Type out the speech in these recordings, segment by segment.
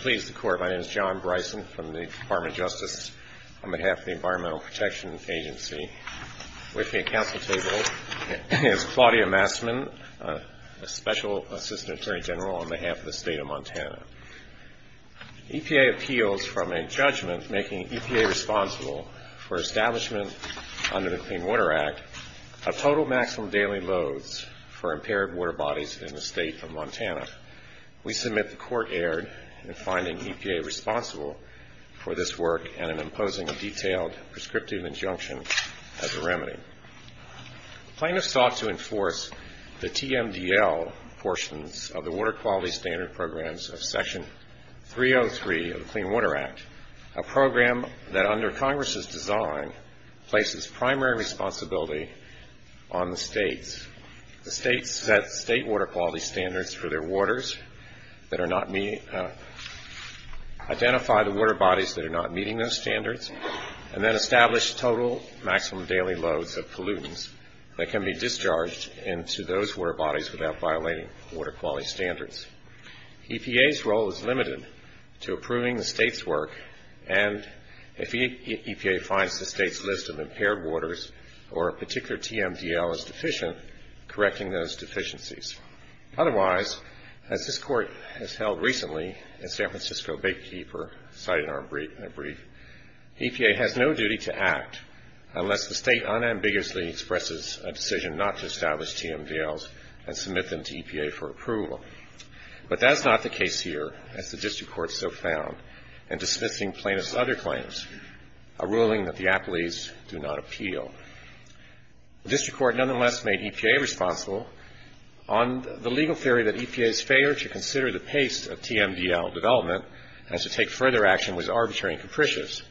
Please the court. My name is John Bryson from the Department of Justice on behalf of the Environmental Protection Agency. With me at council table is Claudia Massman, Special Assistant Attorney General on behalf of the state of Montana. EPA appeals from a judgment making EPA responsible for establishment under the Clean Water Act of total maximum daily loads for impaired water bodies in the state of Montana. We submit the court erred in finding EPA responsible for this work and in imposing a detailed prescriptive injunction as a remedy. Plaintiffs sought to enforce the TMDL portions of the Water Quality Standard Programs of Section 303 of the Clean Water Act, a program that under Congress's design places primary responsibility on the states. The states set state water quality standards for their waters, identify the water bodies that are not meeting those standards, and then establish total maximum daily loads of pollutants that can be discharged into those water bodies without violating water quality standards. EPA's role is limited to approving the state's work and if EPA finds the state's list of impaired waters or a particular TMDL is deficient, correcting those deficiencies. Otherwise, as this court has held recently in San Francisco Bake Keeper, cited in our brief, EPA has no duty to act unless the state unambiguously expresses a decision not to establish TMDLs and submit them to EPA for approval. But that's not the case here, as the district court so found in dismissing plaintiffs' other claims, a ruling that the appellees do not appeal. The district court nonetheless made EPA responsible on the legal theory that EPA's failure to consider the pace of TMDL development and to take further action was arbitrary and capricious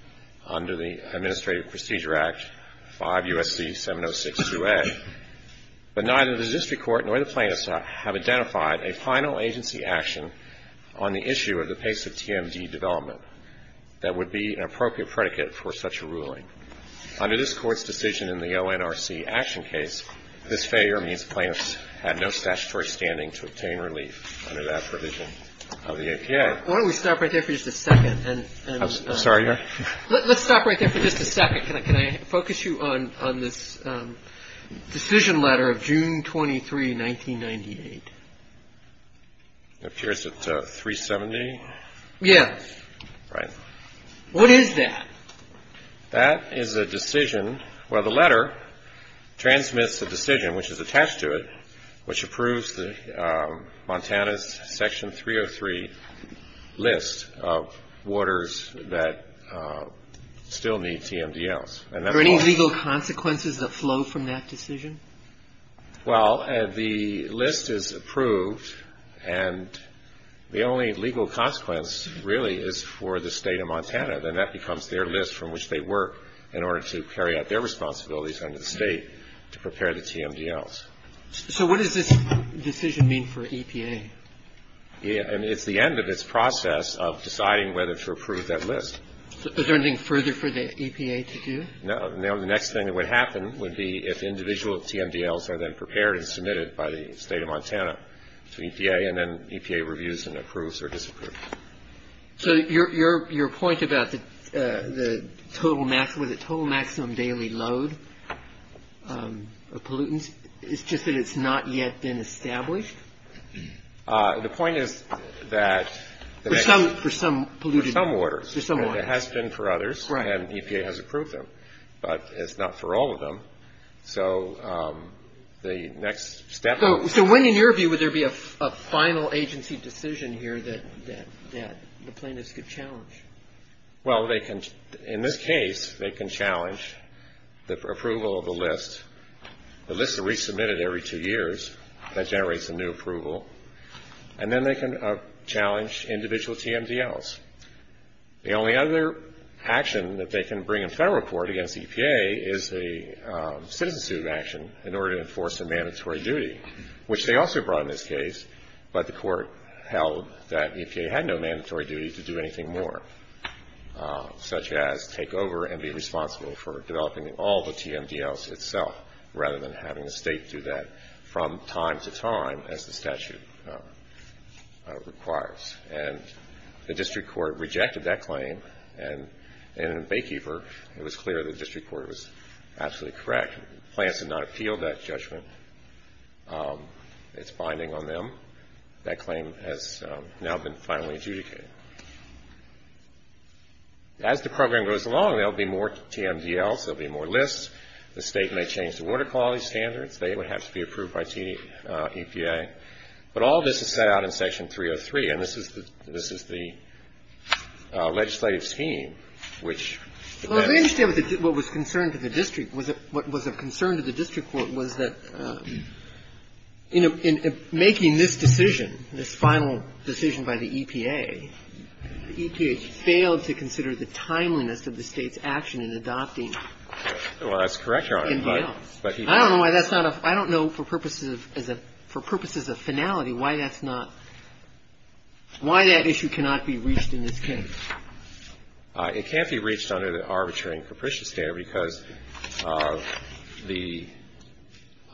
under the Administrative Procedure Act 5 U.S.C. 706-2A. But neither the district court nor the plaintiffs have identified a final agency action on the issue of the pace of TMD development that would be an appropriate predicate for such a ruling. Under this Court's decision in the ONRC action case, this failure means plaintiffs had no statutory standing to obtain relief under that provision of the EPA. Okay. Why don't we stop right there for just a second and... I'm sorry? Let's stop right there for just a second. Can I focus you on this decision letter of June 23, 1998? It appears at 370? Yes. Right. What is that? That is a decision where the letter transmits the decision which is attached to it, which approves Montana's Section 303 list of waters that still need TMDLs. Are there any legal consequences that flow from that decision? Well, the list is approved, and the only legal consequence really is for the state of Montana. Then that becomes their list from which they work in order to carry out their responsibilities under the state to prepare the TMDLs. So what does this decision mean for EPA? It's the end of its process of deciding whether to approve that list. Is there anything further for the EPA to do? No. Now, the next thing that would happen would be if individual TMDLs are then prepared and submitted by the state of Montana to EPA, and then EPA reviews and approves or disapproves. So your point about the total maximum daily load of pollutants, it's just that it's not yet been established? The point is that the next... For some polluted... For some waters. For some waters. And it has been for others. Right. And EPA has approved them, but it's not for all of them. So the next step... So when, in your view, would there be a final agency decision here that the plaintiffs could challenge? Well, they can... In this case, they can challenge the approval of the list. The list is resubmitted every two years. That generates a new approval. And then they can challenge individual TMDLs. The only other action that they can bring in federal court against EPA is a citizen suit action in order to enforce a mandatory duty, which they also brought in this case, but the court held that EPA had no mandatory duty to do anything more, such as take over and be responsible for developing all the TMDLs itself, rather than having the state do that from time to time, as the statute requires. And the district court rejected that claim. And in Baykeeper, it was clear the district court was absolutely correct. The plaintiffs did not appeal that judgment. It's binding on them. That claim has now been finally adjudicated. As the program goes along, there will be more TMDLs. There will be more lists. The state may change the water quality standards. They would have to be approved by EPA. But all this is set out in Section 303. And this is the legislative scheme, which the bench. Well, I understand what was concerned to the district. What was of concern to the district court was that in making this decision, this final decision by the EPA, EPA failed to consider the timeliness of the state's action in adopting TMDLs. Well, that's correct, Your Honor. I don't know why that's not a – I don't know for purposes of finality why that's not – why that issue cannot be reached in this case. It can't be reached under the Arbitrary and Capricious State because of the –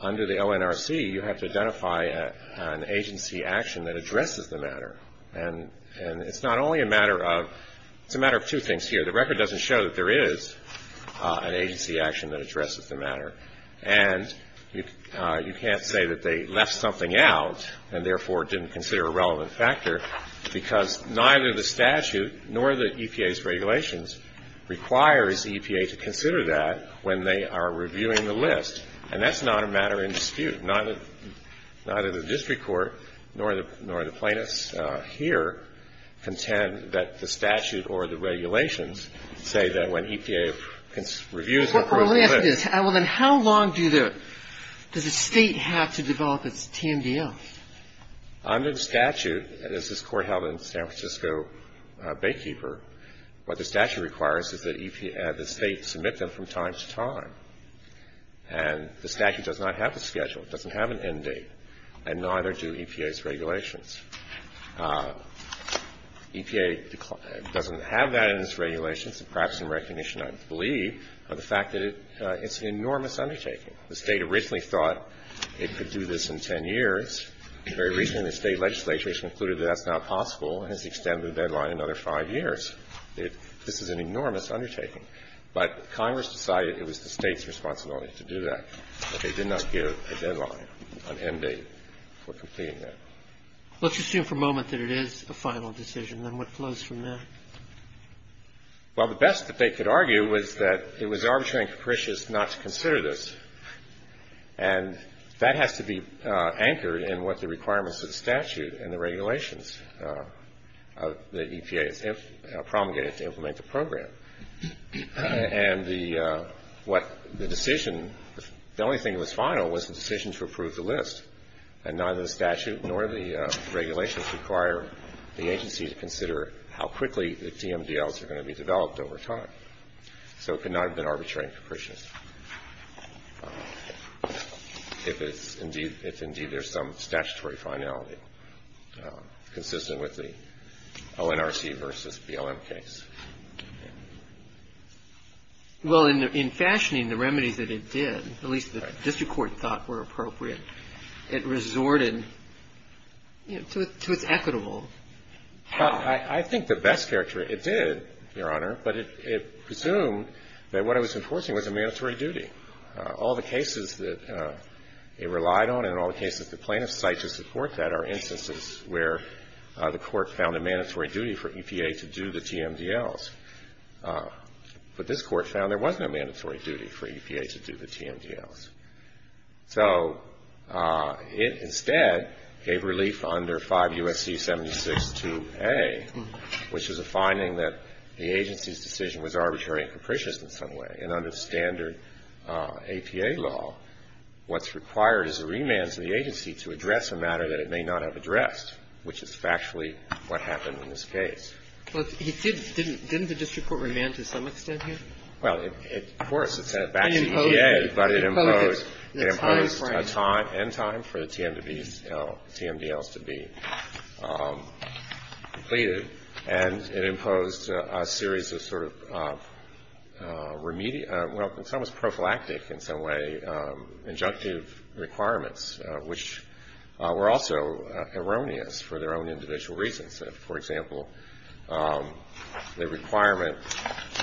under the LNRC, you have to identify an agency action that addresses the matter. And it's not only a matter of – it's a matter of two things here. The record doesn't show that there is an agency action that addresses the matter. And you can't say that they left something out and, therefore, didn't consider a relevant factor because neither the statute nor the EPA's regulations requires the EPA to consider that when they are reviewing the list. And that's not a matter in dispute. Neither the district court nor the plaintiffs here contend that the statute or the regulations say that when EPA reviews the list. Well, let me ask this. How long do the – does the State have to develop its TMDL? Under the statute, as this Court held in San Francisco Baykeeper, what the statute requires is that the State submit them from time to time. And the statute does not have the schedule. It doesn't have an end date. And neither do EPA's regulations. EPA doesn't have that in its regulations, perhaps in recognition, I believe, of the fact that it's an enormous undertaking. The State originally thought it could do this in 10 years. Very recently, the State legislature has concluded that that's not possible and has extended the deadline another five years. This is an enormous undertaking. But Congress decided it was the State's responsibility to do that, but they did not give a deadline, an end date, for completing that. Let's assume for a moment that it is a final decision. Then what flows from that? Well, the best that they could argue was that it was arbitrary and capricious not to consider this. And that has to be anchored in what the requirements of the statute and the regulations of the EPA promulgated to implement the program. And the decision, the only thing that was final was the decision to approve the list. And neither the statute nor the regulations require the agency to consider how quickly the DMDLs are going to be developed over time. So it could not have been arbitrary and capricious if indeed there's some statutory finality consistent with the ONRC versus BLM case. Well, in fashioning the remedies that it did, at least the district court thought were appropriate, it resorted, you know, to its equitable path. I think the best character it did, Your Honor, but it presumed that what it was enforcing was a mandatory duty. All the cases that it relied on and all the cases the plaintiffs cite to support that are instances where the court found a mandatory duty for EPA to do the DMDLs. But this Court found there was no mandatory duty for EPA to do the DMDLs. So it instead gave relief under 5 U.S.C. 76-2A, which is a finding that the agency's decision was arbitrary and capricious in some way. And under standard APA law, what's required is a remand to the agency to address a matter that it may not have addressed, which is factually what happened in this case. But he said it didn't. Didn't the district court remand to some extent here? Well, of course, it sent it back to EPA, but it imposed a time, end time, for the DMDLs to be completed. And it imposed a series of sort of remedial, well, it's almost prophylactic in some way, injunctive requirements, which were also erroneous for their own individual reasons. For example, the requirement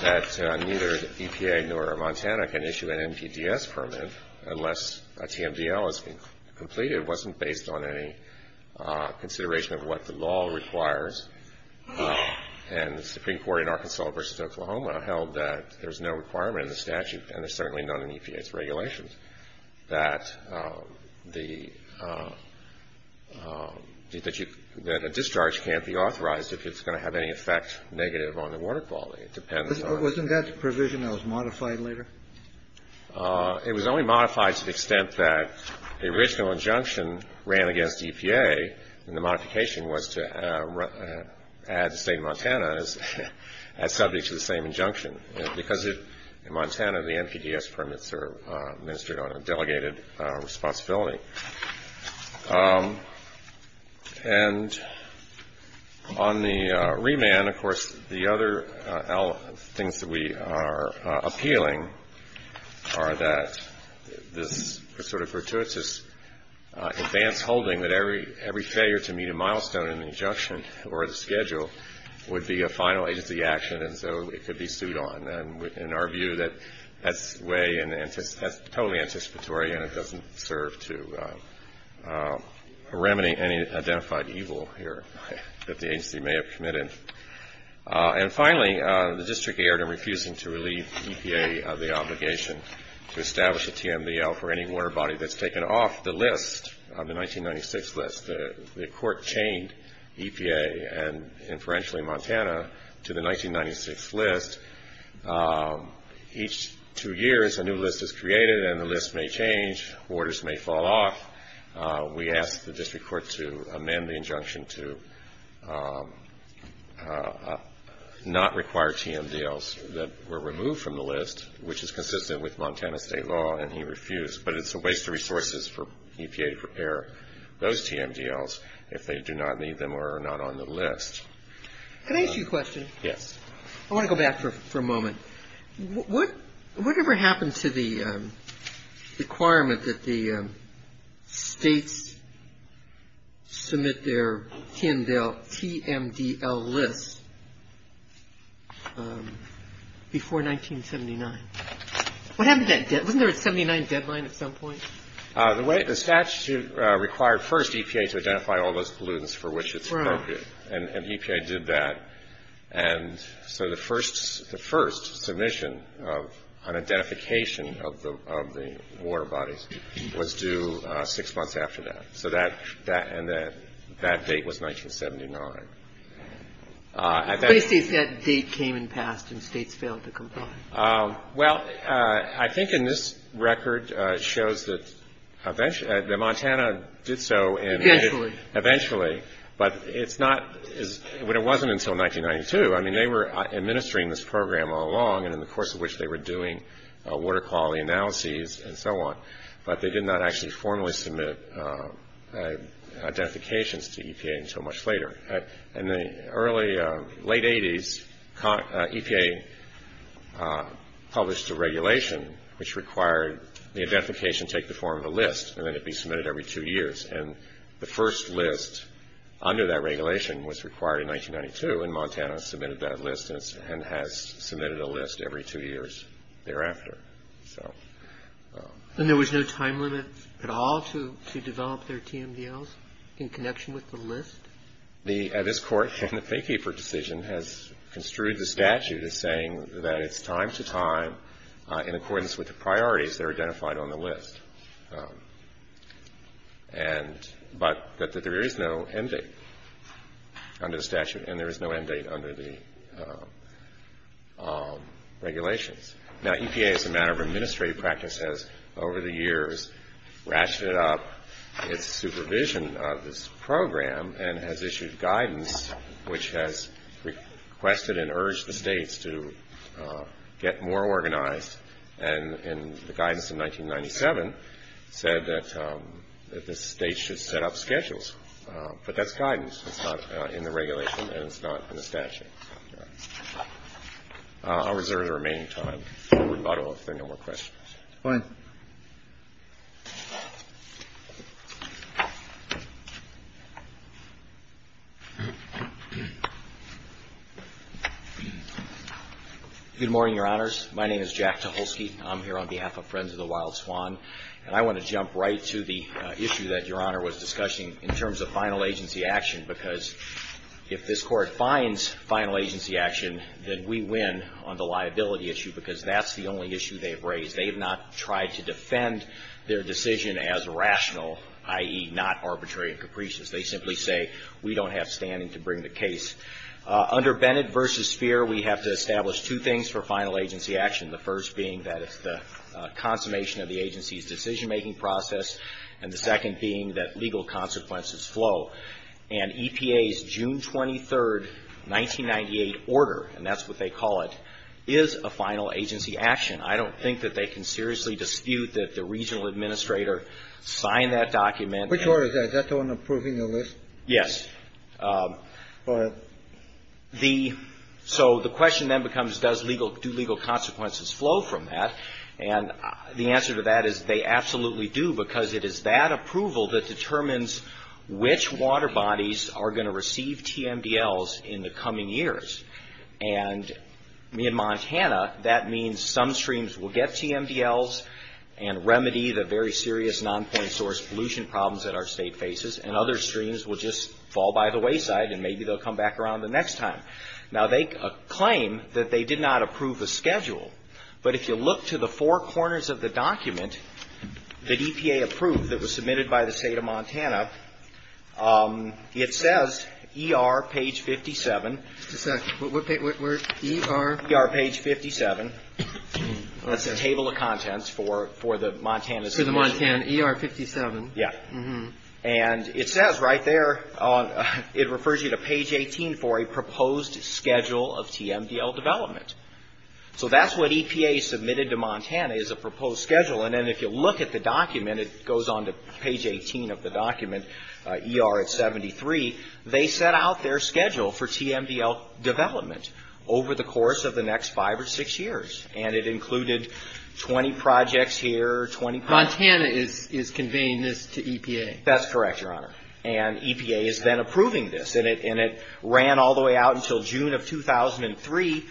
that neither EPA nor Montana can issue an MPDS permit unless a DMDL is completed wasn't based on any consideration of what the law requires. And the Supreme Court in Arkansas versus Oklahoma held that there's no requirement in the statute, and there's certainly none in EPA's regulations, that a discharge can't be authorized if it's going to have any effect negative on the water quality. Wasn't that provision that was modified later? It was only modified to the extent that the original injunction ran against EPA, and the modification was to add the state of Montana as subject to the same injunction. Because in Montana, the MPDS permits are administered on a delegated responsibility. And on the remand, of course, the other things that we are appealing are that this sort of gratuitous advance holding that every failure to meet a milestone in the injunction or the schedule would be a final agency action, and so it could be sued on. In our view, that's totally anticipatory, and it doesn't serve to remedy any identified evil here that the agency may have committed. And finally, the district erred in refusing to relieve EPA of the obligation to establish a DMDL for any water body that's taken off the list of the 1996 list. The court chained EPA and, inferentially, Montana to the 1996 list. Each two years, a new list is created, and the list may change. Orders may fall off. We asked the district court to amend the injunction to not require DMDLs that were removed from the list, which is consistent with Montana state law, and he refused. But it's a waste of resources for EPA to prepare those DMDLs if they do not need them or are not on the list. Can I ask you a question? Yes. I want to go back for a moment. Whatever happened to the requirement that the states submit their TMDL list before 1979? What happened to that deadline? Wasn't there a 1979 deadline at some point? The statute required first EPA to identify all those pollutants for which it submitted. Right. And EPA did that. And so the first submission on identification of the water bodies was due six months after that. So that and that date was 1979. What do you say if that date came and passed and states failed to comply? Well, I think in this record it shows that Montana did so. Eventually. Eventually. But it wasn't until 1992. I mean, they were administering this program all along and in the course of which they were doing water quality analyses and so on, but they did not actually formally submit identifications to EPA until much later. In the early, late 80s, EPA published a regulation which required the identification take the form of a list and then it be submitted every two years. And the first list under that regulation was required in 1992, and Montana submitted that list and has submitted a list every two years thereafter. And there was no time limit at all to develop their TMDLs in connection with the list? This Court, in the paykeeper decision, has construed the statute as saying that it's time to time in accordance with the priorities that are identified on the list. But that there is no end date under the statute and there is no end date under the regulations. Now, EPA, as a matter of administrative practice, has over the years ratcheted up its supervision of this program and has issued guidance which has requested and urged the states to get more organized. And the guidance in 1997 said that the states should set up schedules. But that's guidance. It's not in the regulation and it's not in the statute. I'll reserve the remaining time for rebuttal if there are no more questions. Fine. Good morning, Your Honors. My name is Jack Tucholsky. I'm here on behalf of Friends of the Wild Swan. And I want to jump right to the issue that Your Honor was discussing in terms of final agency action because if this Court finds final agency action, then we win on the liability issue because that's the only issue they've raised. They have not tried to defend their decision as rational, i.e., not arbitrary and capricious. They simply say we don't have standing to bring the case. Under Bennett v. Speer, we have to establish two things for final agency action, the first being that it's the consummation of the agency's decision-making process, and the second being that legal consequences flow. And EPA's June 23, 1998 order, and that's what they call it, is a final agency action. I don't think that they can seriously dispute that the regional administrator signed that document. Which order is that? Is that the one approving the list? Yes. Go ahead. The so the question then becomes does legal do legal consequences flow from that? And the answer to that is they absolutely do because it is that approval that determines which water bodies are going to receive TMDLs in the coming years. And me in Montana, that means some streams will get TMDLs and remedy the very serious nonpoint source pollution problems that our state faces, and other streams will just fall by the wayside and maybe they'll come back around the next time. Now, they claim that they did not approve the schedule. But if you look to the four corners of the document that EPA approved that was submitted by the state of Montana, it says ER page 57. Just a second. What page? ER. ER page 57. That's the table of contents for the Montana. For the Montana. ER 57. Yes. And it says right there, it refers you to page 18 for a proposed schedule of TMDL development. So that's what EPA submitted to Montana is a proposed schedule. And then if you look at the document, it goes on to page 18 of the document, ER at 73. They set out their schedule for TMDL development over the course of the next five or six years. And it included 20 projects here, 20 projects. Montana is conveying this to EPA. That's correct, Your Honor. And EPA is then approving this. And it ran all the way out until June of 2003,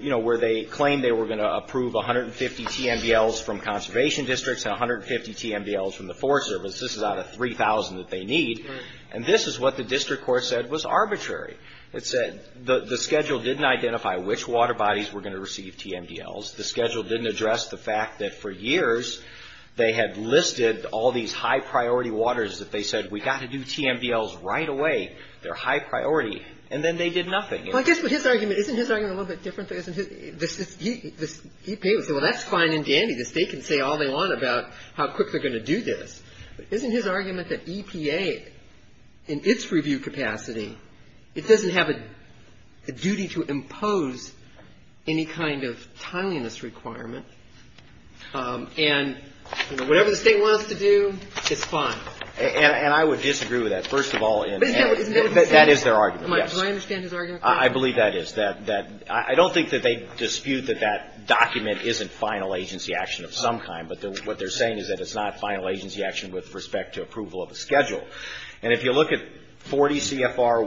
you know, where they claimed they were going to approve 150 TMDLs from conservation districts and 150 TMDLs from the Forest Service. This is out of 3,000 that they need. And this is what the district court said was arbitrary. It said the schedule didn't identify which water bodies were going to receive TMDLs. The schedule didn't address the fact that for years they had listed all these high-priority waters that they said, we've got to do TMDLs right away. They're high priority. And then they did nothing. Well, I guess with his argument, isn't his argument a little bit different? The EPA would say, well, that's fine and dandy. The state can say all they want about how quick they're going to do this. But isn't his argument that EPA, in its review capacity, it doesn't have a duty to impose any kind of timeliness requirement? And whatever the state wants to do, it's fine. And I would disagree with that, first of all. That is their argument, yes. Do I understand his argument? I believe that is. I don't think that they dispute that that document isn't final agency action of some kind. But what they're saying is that it's not final agency action with respect to approval of a schedule. And if you look at 40 CFR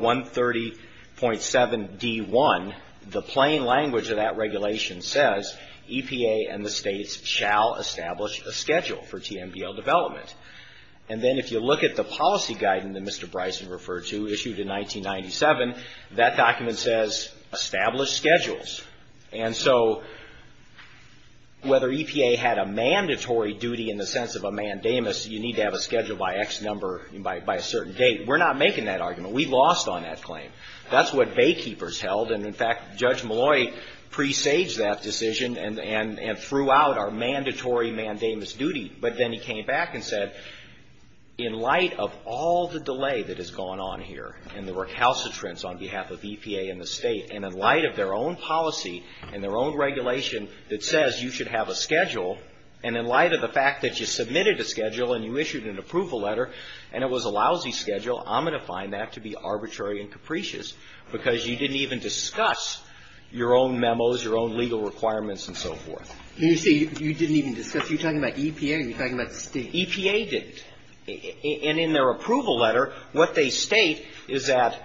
130.7D1, the plain language of that regulation says, EPA and the states shall establish a schedule for TMDL development. And then if you look at the policy guidance that Mr. Bryson referred to, issued in 1997, that document says, establish schedules. And so whether EPA had a mandatory duty in the sense of a mandamus, you need to have a schedule by X number, by a certain date. We're not making that argument. We lost on that claim. That's what Baykeepers held. And, in fact, Judge Malloy presaged that decision and threw out our mandatory mandamus duty. But then he came back and said, in light of all the delay that has gone on here and the recalcitrance on behalf of EPA and the state, and in light of their own policy and their own regulation that says you should have a schedule, and in light of the fact that you submitted a schedule and you issued an approval letter and it was a lousy schedule, I'm going to find that to be arbitrary and capricious because you didn't even discuss your own memos, your own legal requirements, and so forth. And you say you didn't even discuss. Are you talking about EPA or are you talking about the state? EPA didn't. And in their approval letter, what they state is that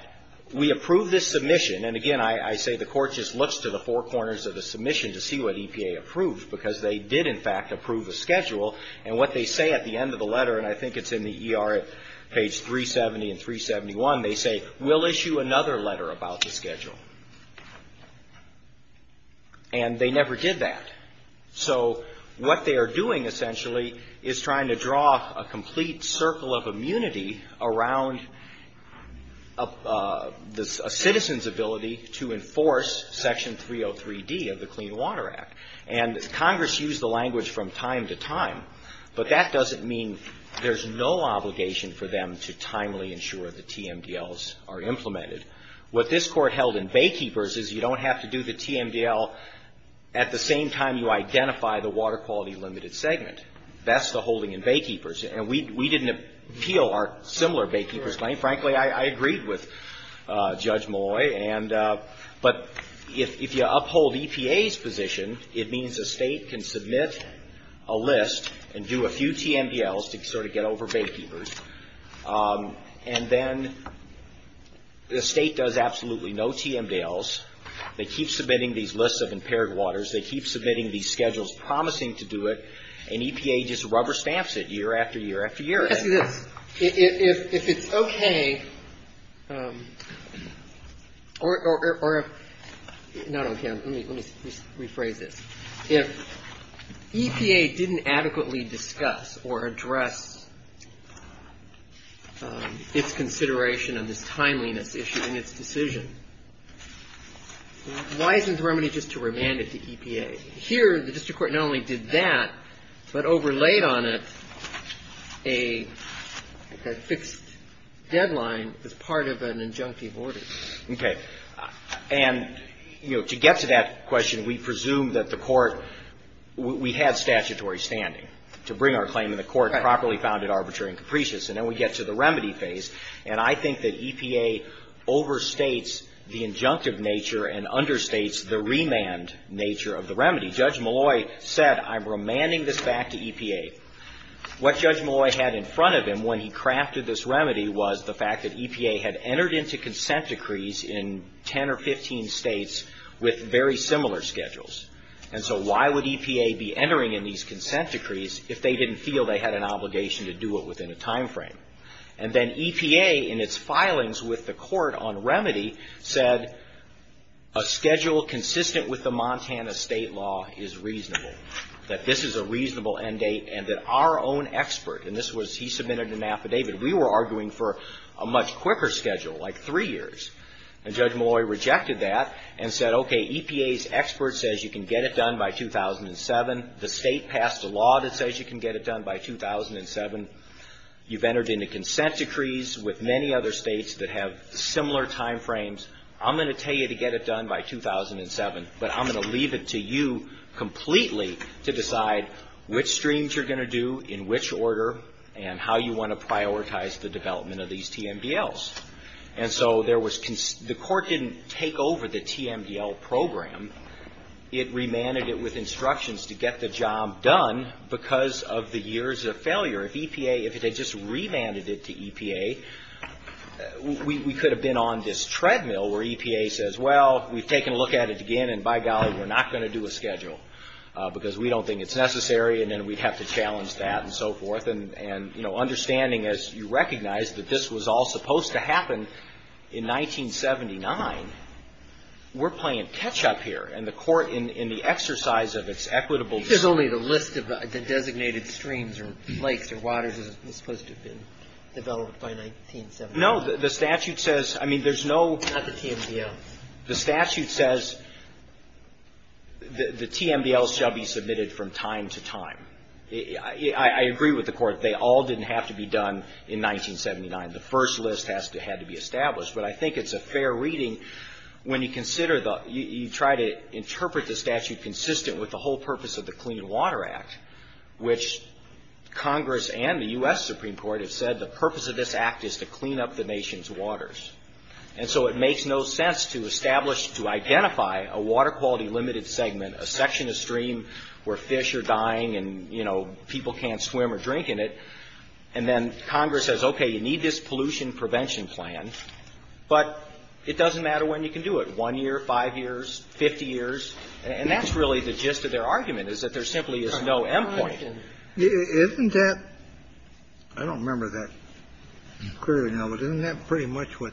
we approve this submission. And, again, I say the Court just looks to the four corners of the submission to see what EPA approved, because they did, in fact, approve a schedule. And what they say at the end of the letter, and I think it's in the ER at page 370 and they never did that. So what they are doing, essentially, is trying to draw a complete circle of immunity around a citizen's ability to enforce Section 303D of the Clean Water Act. And Congress used the language from time to time, but that doesn't mean there's no obligation for them to timely ensure the TMDLs are implemented. What this Court held in Baykeepers is you don't have to do the TMDL at the same time you identify the water quality limited segment. That's the holding in Baykeepers. And we didn't appeal our similar Baykeepers claim. Frankly, I agreed with Judge Malloy. But if you uphold EPA's position, it means a state can submit a list and do a few TMDLs to sort of get over Baykeepers. And then the state does absolutely no TMDLs. They keep submitting these lists of impaired waters. They keep submitting these schedules promising to do it. And EPA just rubber stamps it year after year after year. Now, let me ask you this. If it's okay, or not okay. Let me rephrase this. If EPA didn't adequately discuss or address its consideration of this timeliness issue in its decision, why isn't the remedy just to remand it to EPA? Here, the district court not only did that, but overlaid on it a fixed deadline as part of an injunctive order. Okay. And, you know, to get to that question, we presume that the court we had statutory standing to bring our claim to the court properly founded arbitrary and capricious. And then we get to the remedy phase. And I think that EPA overstates the injunctive nature and understates the remand nature of the remedy. Judge Malloy said, I'm remanding this back to EPA. What Judge Malloy had in front of him when he crafted this remedy was the fact that EPA had entered into consent decrees in 10 or 15 states with very similar schedules. And so why would EPA be entering in these consent decrees if they didn't feel they had an obligation to do it within a timeframe? And then EPA, in its filings with the court on remedy, said a schedule consistent with the Montana state law is reasonable. That this is a reasonable end date and that our own expert, and this was he submitted an affidavit. We were arguing for a much quicker schedule, like three years. And Judge Malloy rejected that and said, okay, EPA's expert says you can get it done by 2007. The state passed a law that says you can get it done by 2007. You've entered into consent decrees with many other states that have similar timeframes. I'm going to tell you to get it done by 2007, but I'm going to leave it to you completely to decide which streams you're going to do, in which order, and how you want to prioritize the development of these TMDLs. And so the court didn't take over the TMDL program. It remanded it with instructions to get the job done because of the years of failure. If EPA, if it had just remanded it to EPA, we could have been on this treadmill where EPA says, well, we've taken a look at it again. And by golly, we're not going to do a schedule because we don't think it's necessary. And then we'd have to challenge that and so forth. And, you know, understanding, as you recognize, that this was all supposed to happen in 1979. We're playing catch-up here. And the court, in the exercise of its equitable. There's only the list of the designated streams or lakes or waters is supposed to have been developed by 1979. No. The statute says, I mean, there's no. Not the TMDLs. The statute says the TMDLs shall be submitted from time to time. I agree with the court. They all didn't have to be done in 1979. The first list has to have to be established. But I think it's a fair reading when you consider the, you try to interpret the statute consistent with the whole purpose of the Clean Water Act, which Congress and the U.S. Supreme Court have said the purpose of this act is to clean up the nation's waters. And so it makes no sense to establish, to identify a water quality limited segment, a section of stream where fish are dying and, you know, people can't swim or drink in it. And then Congress says, okay, you need this pollution prevention plan. But it doesn't matter when you can do it, 1 year, 5 years, 50 years. And that's really the gist of their argument is that there simply is no end point. Isn't that, I don't remember that clearly now, but isn't that pretty much what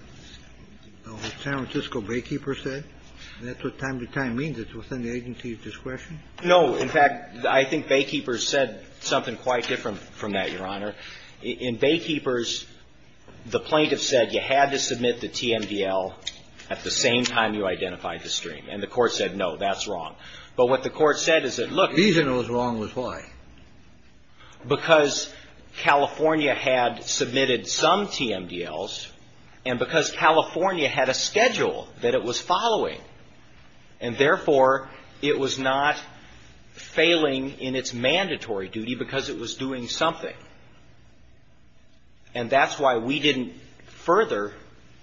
the San Francisco Baykeeper said? That's what time to time means. It's within the agency's discretion. No. In fact, I think Baykeepers said something quite different from that, Your Honor. In Baykeepers, the plaintiff said you had to submit the TMDL at the same time you identified the stream. And the Court said, no, that's wrong. But what the Court said is that, look. The reason it was wrong was why? Because California had submitted some TMDLs and because California had a schedule that it was following. And therefore, it was not failing in its mandatory duty because it was doing something. And that's why we didn't further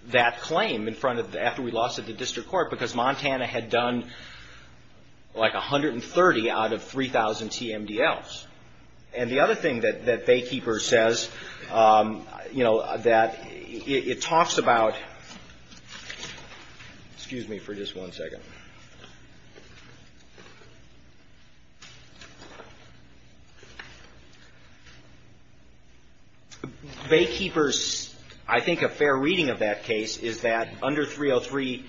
that claim in front of, after we lost it to district court, because Montana had done like 130 out of 3,000 TMDLs. And the other thing that Baykeepers says, you know, that it talks about, excuse me for just one second. Baykeepers, I think a fair reading of that case is that under 303D,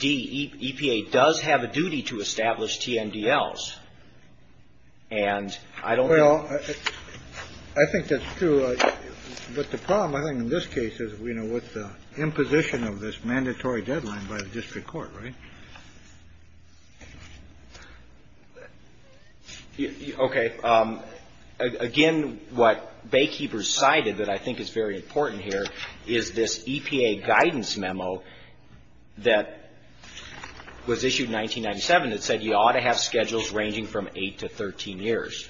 EPA does have a duty to establish TMDLs. And I don't know. Well, I think that's true. But the problem, I think, in this case is, you know, with the imposition of this mandatory deadline by the district court, right? Okay. Again, what Baykeepers cited that I think is very important here is this EPA guidance memo that was issued in 1997 that said you ought to have schedules ranging from 8 to 13 years.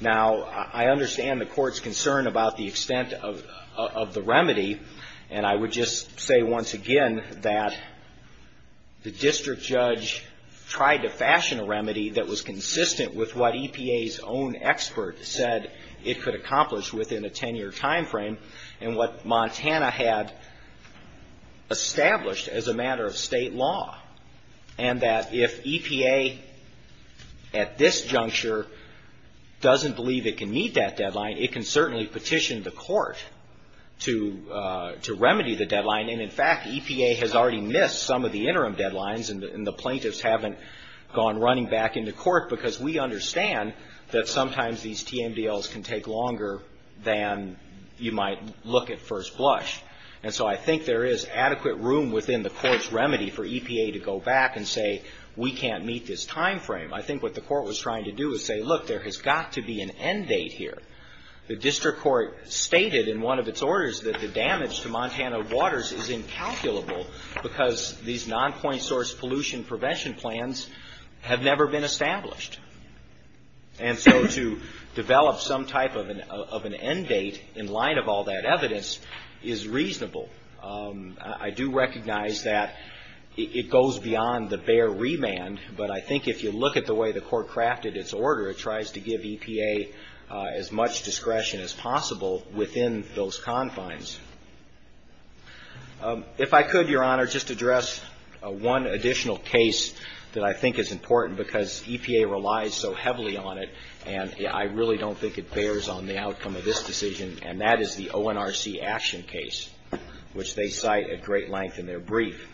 Now, I understand the court's concern about the extent of the remedy. And I would just say once again that the district judge tried to fashion a remedy that was consistent with what EPA's own expert said it could accomplish within a 10-year timeframe and what Montana had established as a matter of state law. And that if EPA at this juncture doesn't believe it can meet that deadline, it can certainly petition the court to remedy the deadline. And in fact, EPA has already missed some of the interim deadlines, and the plaintiffs haven't gone running back into court because we understand that sometimes these TMDLs can take longer than you might look at first blush. And so I think there is adequate room within the court's remedy for EPA to go back and say, we can't meet this timeframe. I think what the court was trying to do is say, look, there has got to be an end date here. The district court stated in one of its orders that the damage to Montana waters is incalculable because these nonpoint source pollution prevention plans have never been established. And so to develop some type of an end date in line of all that evidence is reasonable. I do recognize that it goes beyond the bare remand, but I think if you look at the way the court crafted its order, it tries to give EPA as much discretion as possible within those confines. If I could, Your Honor, just address one additional case that I think is important because EPA relies so heavily on it, and I really don't think it bears on the outcome of this decision, and that is the ONRC action case, which they cite at great length in their brief.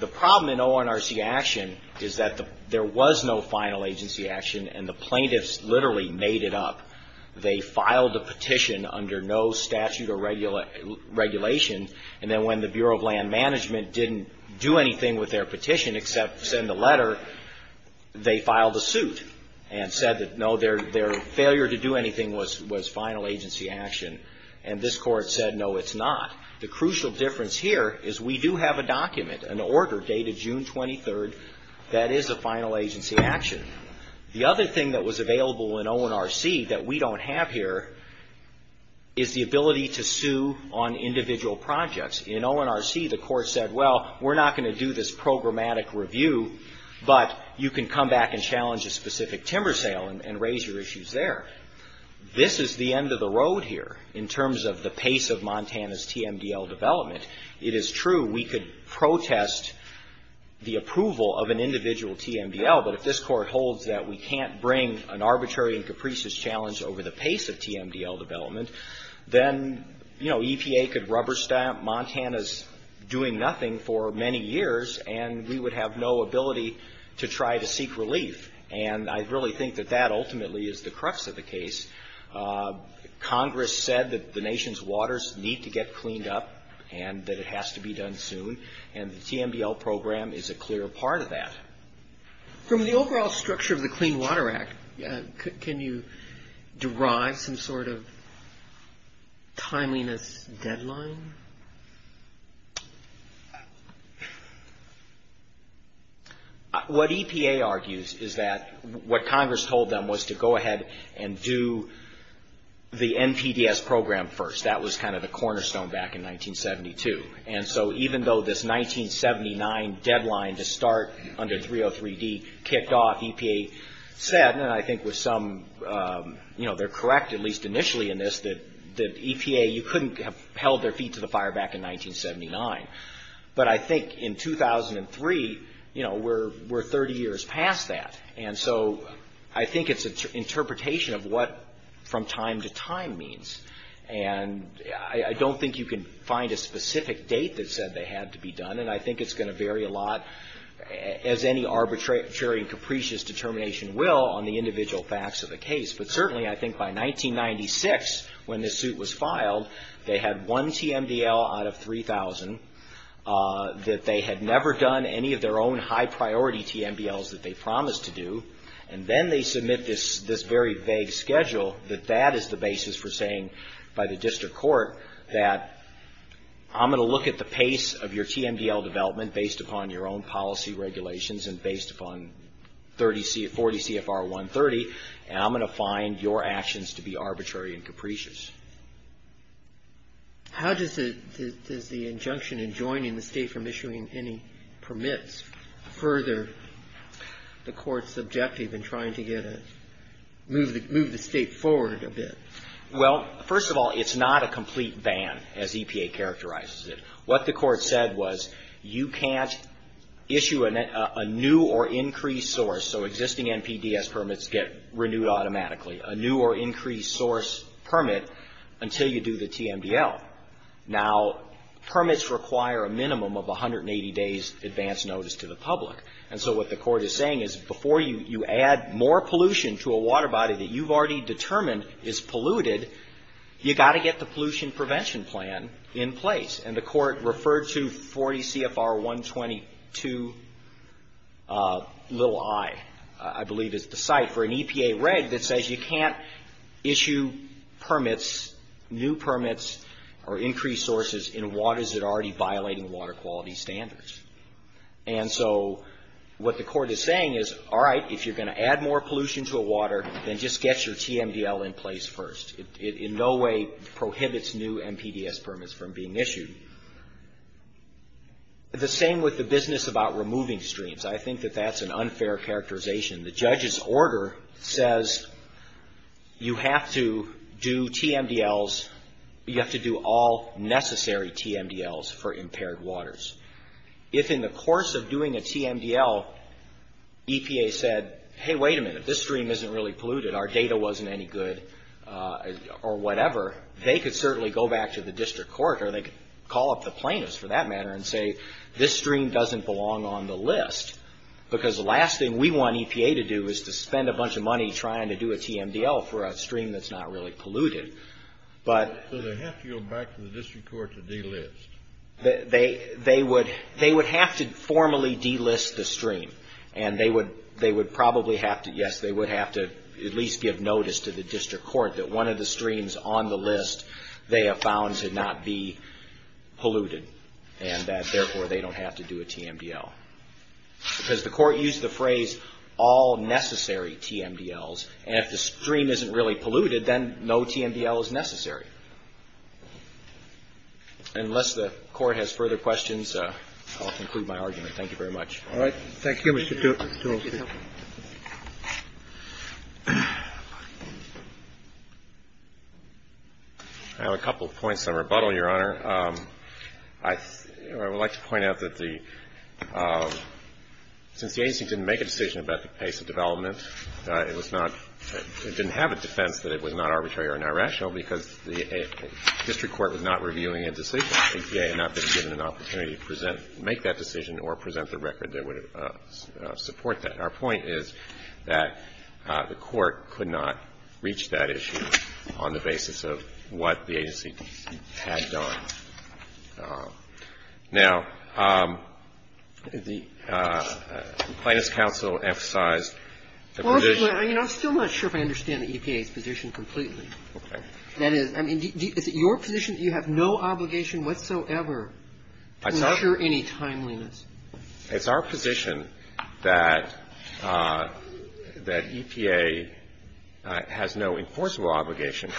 The problem in ONRC action is that there was no final agency action, and the plaintiffs literally made it up. They filed the petition under no statute or regulation, and then when the Bureau of Land Management didn't do anything with their petition except send a letter, they filed a suit and said that, no, their failure to do anything was final agency action, and this court said, no, it's not. The crucial difference here is we do have a document, an order dated June 23rd, that is a final agency action. The other thing that was available in ONRC that we don't have here is the ability to sue on individual projects. In ONRC, the court said, well, we're not going to do this programmatic review, but you can come back and challenge a specific timber sale and raise your issues there. This is the end of the road here in terms of the pace of Montana's TMDL development. It is true we could protest the approval of an individual TMDL, but if this court holds that we can't bring an arbitrary and capricious challenge over the pace of TMDL development, then, you know, EPA could rubber stamp Montana's doing nothing for many years, and we would have no ability to try to seek relief, and I really think that that ultimately is the crux of the case. Congress said that the nation's waters need to get cleaned up and that it has to be done soon, and the TMDL program is a clear part of that. From the overall structure of the Clean Water Act, can you derive some sort of timeliness deadline? What EPA argues is that what Congress told them was to go ahead and do the NPDES program first. That was kind of the cornerstone back in 1972, and so even though this 1979 deadline to start under 303D kicked off, EPA said, and I think with some, you know, they're correct at least initially in this, that EPA, you couldn't have held their feet to the fire back in 1979, but I think in 2003, you know, we're 30 years past that, and so I think it's an interpretation of what from time to time means, and I don't think you can find a specific date that said they had to be done, and I think it's going to vary a lot, as any arbitrary and capricious determination will, on the individual facts of the case, but certainly I think by 1996, when this suit was filed, they had one TMDL out of 3,000 that they had never done any of their own high-priority TMDLs that they promised to do, and then they submit this very vague schedule that that is the basis for saying by the district court that I'm going to look at the pace of your TMDL development based upon your own policy regulations and based upon 40 CFR 130, and I'm going to find your actions to be arbitrary and capricious. How does the injunction in joining the state from issuing any permits further the court's objective in trying to get a move the state forward a bit? Well, first of all, it's not a complete ban, as EPA characterizes it. What the court said was you can't issue a new or increased source, so existing NPDES permits get renewed automatically. A new or increased source permit until you do the TMDL. Now, permits require a minimum of 180 days advance notice to the public, and so what the court is saying is before you add more pollution to a water body that you've already determined is polluted, you've got to get the pollution prevention plan in place, and the court referred to 40 CFR 122, little I, I believe is the site, for an EPA reg that says you can't issue permits, new permits, or increased sources in waters that are already violating water quality standards. And so what the court is saying is, all right, if you're going to add more pollution to a water, then just get your TMDL in place first. It in no way prohibits new NPDES permits from being issued. The same with the business about removing streams. I think that that's an unfair characterization. The judge's order says you have to do TMDLs, you have to do all necessary TMDLs for impaired waters. If in the course of doing a TMDL, EPA said, hey, wait a minute, this stream isn't really polluted, our data wasn't any good, or whatever, they could certainly go back to the district court, or they could call up the plaintiffs for that matter and say, this stream doesn't belong on the list, because the last thing we want EPA to do is to spend a bunch of money trying to do a TMDL for a stream that's not really polluted. So they have to go back to the district court to delist. They would have to formally delist the stream, and they would probably have to, yes, they would have to at least give notice to the district court that one of the streams on the list they have found to not be polluted, and that therefore they don't have to do a TMDL. Because the court used the phrase all necessary TMDLs, and if the stream isn't really polluted, then no TMDL is necessary. Unless the court has further questions, I'll conclude my argument. Thank you very much. All right. Thank you, Mr. Toole. I have a couple of points on rebuttal, Your Honor. I would like to point out that the — since the agency didn't make a decision about the pace of development, it was not — it didn't have a defense that it was not arbitrary or irrational, because the district court was not reviewing a decision. And so the agency, as I understand it, had not been given an opportunity to make that decision or present the record that would support that. Our point is that the court could not reach that issue on the basis of what the agency had done. Now, the Plaintiffs' Counsel emphasized the position — Well, I mean, I'm still not sure if I understand the EPA's position completely. Okay. That is — I mean, is it your position that you have no obligation whatsoever to ensure any timeliness? It's our position that EPA has no enforceable obligation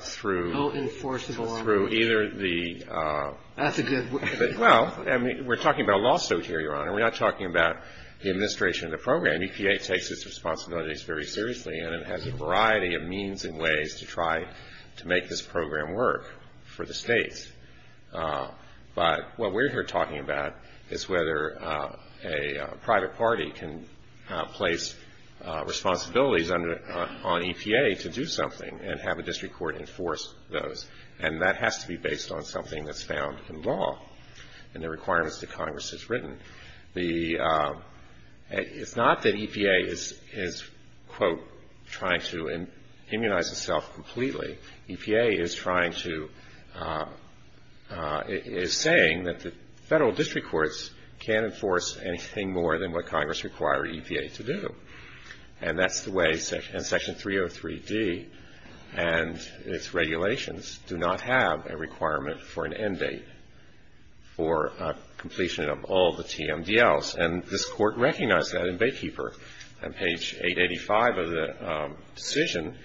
through — No enforceable obligation. — through either the — That's a good — Well, I mean, we're talking about a law suit here, Your Honor. We're not talking about the administration of the program. And EPA takes its responsibilities very seriously, and it has a variety of means and ways to try to make this program work for the states. But what we're here talking about is whether a private party can place responsibilities on EPA to do something and have a district court enforce those. And that has to be based on something that's found in law and the requirements that Congress has written. The — it's not that EPA is, quote, trying to immunize itself completely. EPA is trying to — is saying that the federal district courts can't enforce anything more than what Congress required EPA to do. And that's the way — and Section 303D and its regulations do not have a requirement for an end date for completion of all the TMDLs. And this Court recognized that in Baykeeper on page 885 of the decision.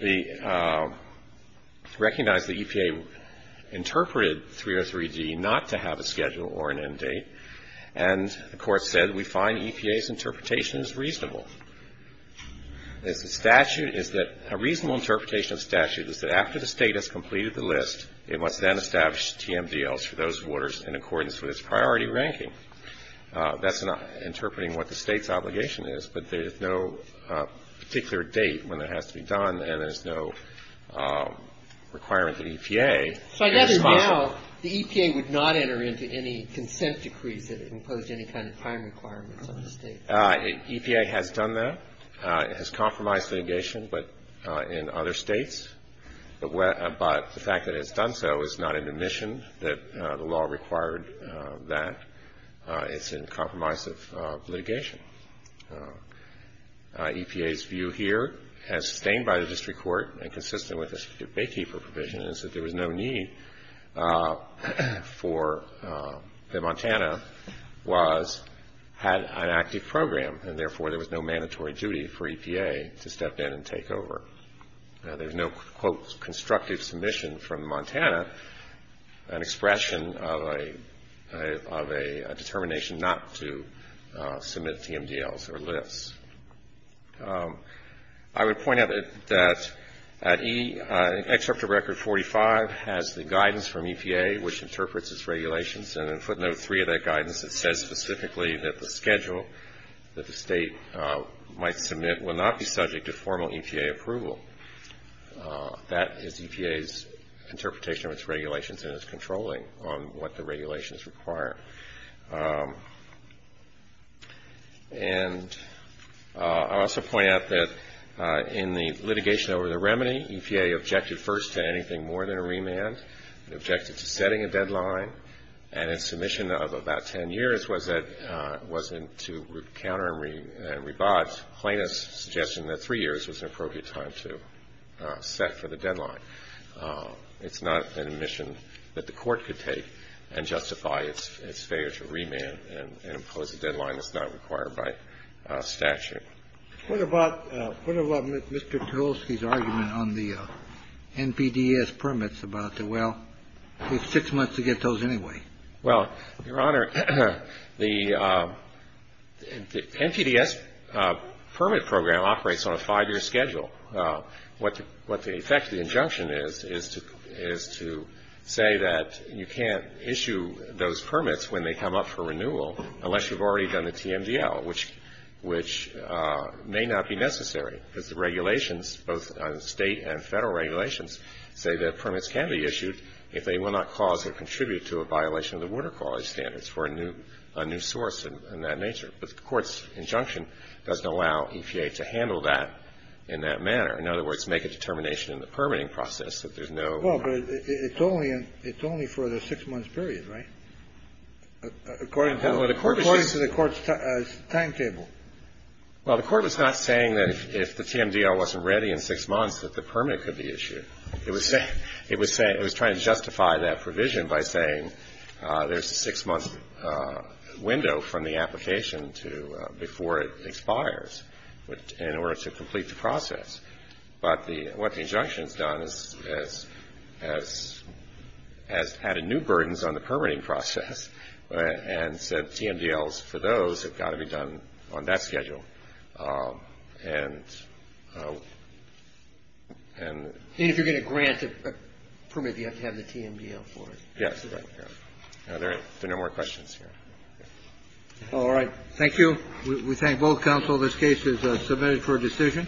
The — recognized that EPA interpreted 303D not to have a schedule or an end date, and the Court said we find EPA's interpretation is reasonable. It's a statute — is that a reasonable interpretation of statute is that after the state has completed the list, it must then establish TMDLs for those orders in accordance with its priority ranking. That's interpreting what the state's obligation is, but there's no particular date when it has to be done and there's no requirement that EPA be responsible. So I gather now the EPA would not enter into any consent decrees that imposed any kind of prime requirements on the state. EPA has done that. It has compromised litigation in other states, but the fact that it has done so is not an admission that the law required that. It's in compromise of litigation. EPA's view here, as sustained by the district court and consistent with its Baykeeper provision, is that there was no need for — that Montana was — had an active program and therefore there was no mandatory duty for EPA to step in and take over. There's no, quote, constructive submission from Montana, an expression of a determination not to submit TMDLs or lists. I would point out that at E, Excerpt of Record 45 has the guidance from EPA, which interprets its regulations, and in footnote three of that guidance it says specifically that the schedule that the state might submit will not be subject to formal EPA approval. That is EPA's interpretation of its regulations and its controlling on what the regulations require. And I'll also point out that in the litigation over the remedy, EPA objected first to anything more than a remand. It objected to setting a deadline, and its submission of about 10 years was that it wasn't to re-counter and rebudge plaintiffs' suggestion that three years was an appropriate time to set for the deadline. It's not an admission that the Court could take and justify its failure to remand and impose a deadline that's not required by statute. What about Mr. Tolsky's argument on the NPDES permits about the, well, it's six months to get those anyway? Well, Your Honor, the NPDES permit program operates on a five-year schedule. What the effect of the injunction is, is to say that you can't issue those permits when they come up for renewal unless you've already done the TMDL, which may not be necessary because the regulations, both state and federal regulations, say that permits can be issued if they will not cause or contribute to a violation of the water quality standards for a new source in that nature. But the Court's injunction doesn't allow EPA to handle that in that manner. In other words, make a determination in the permitting process that there's no ---- It's only for the six-month period, right, according to the Court's timetable? Well, the Court was not saying that if the TMDL wasn't ready in six months that the permit could be issued. It was saying ---- it was trying to justify that provision by saying there's a six-month window from the application to before it expires in order to complete the process. But the ---- what the injunction has done is has added new burdens on the permitting process and said TMDLs for those have got to be done on that schedule. And ---- And if you're going to grant a permit, you have to have the TMDL for it. Yes. There are no more questions here. All right. Thank you. We thank both counsel. This case is submitted for decision.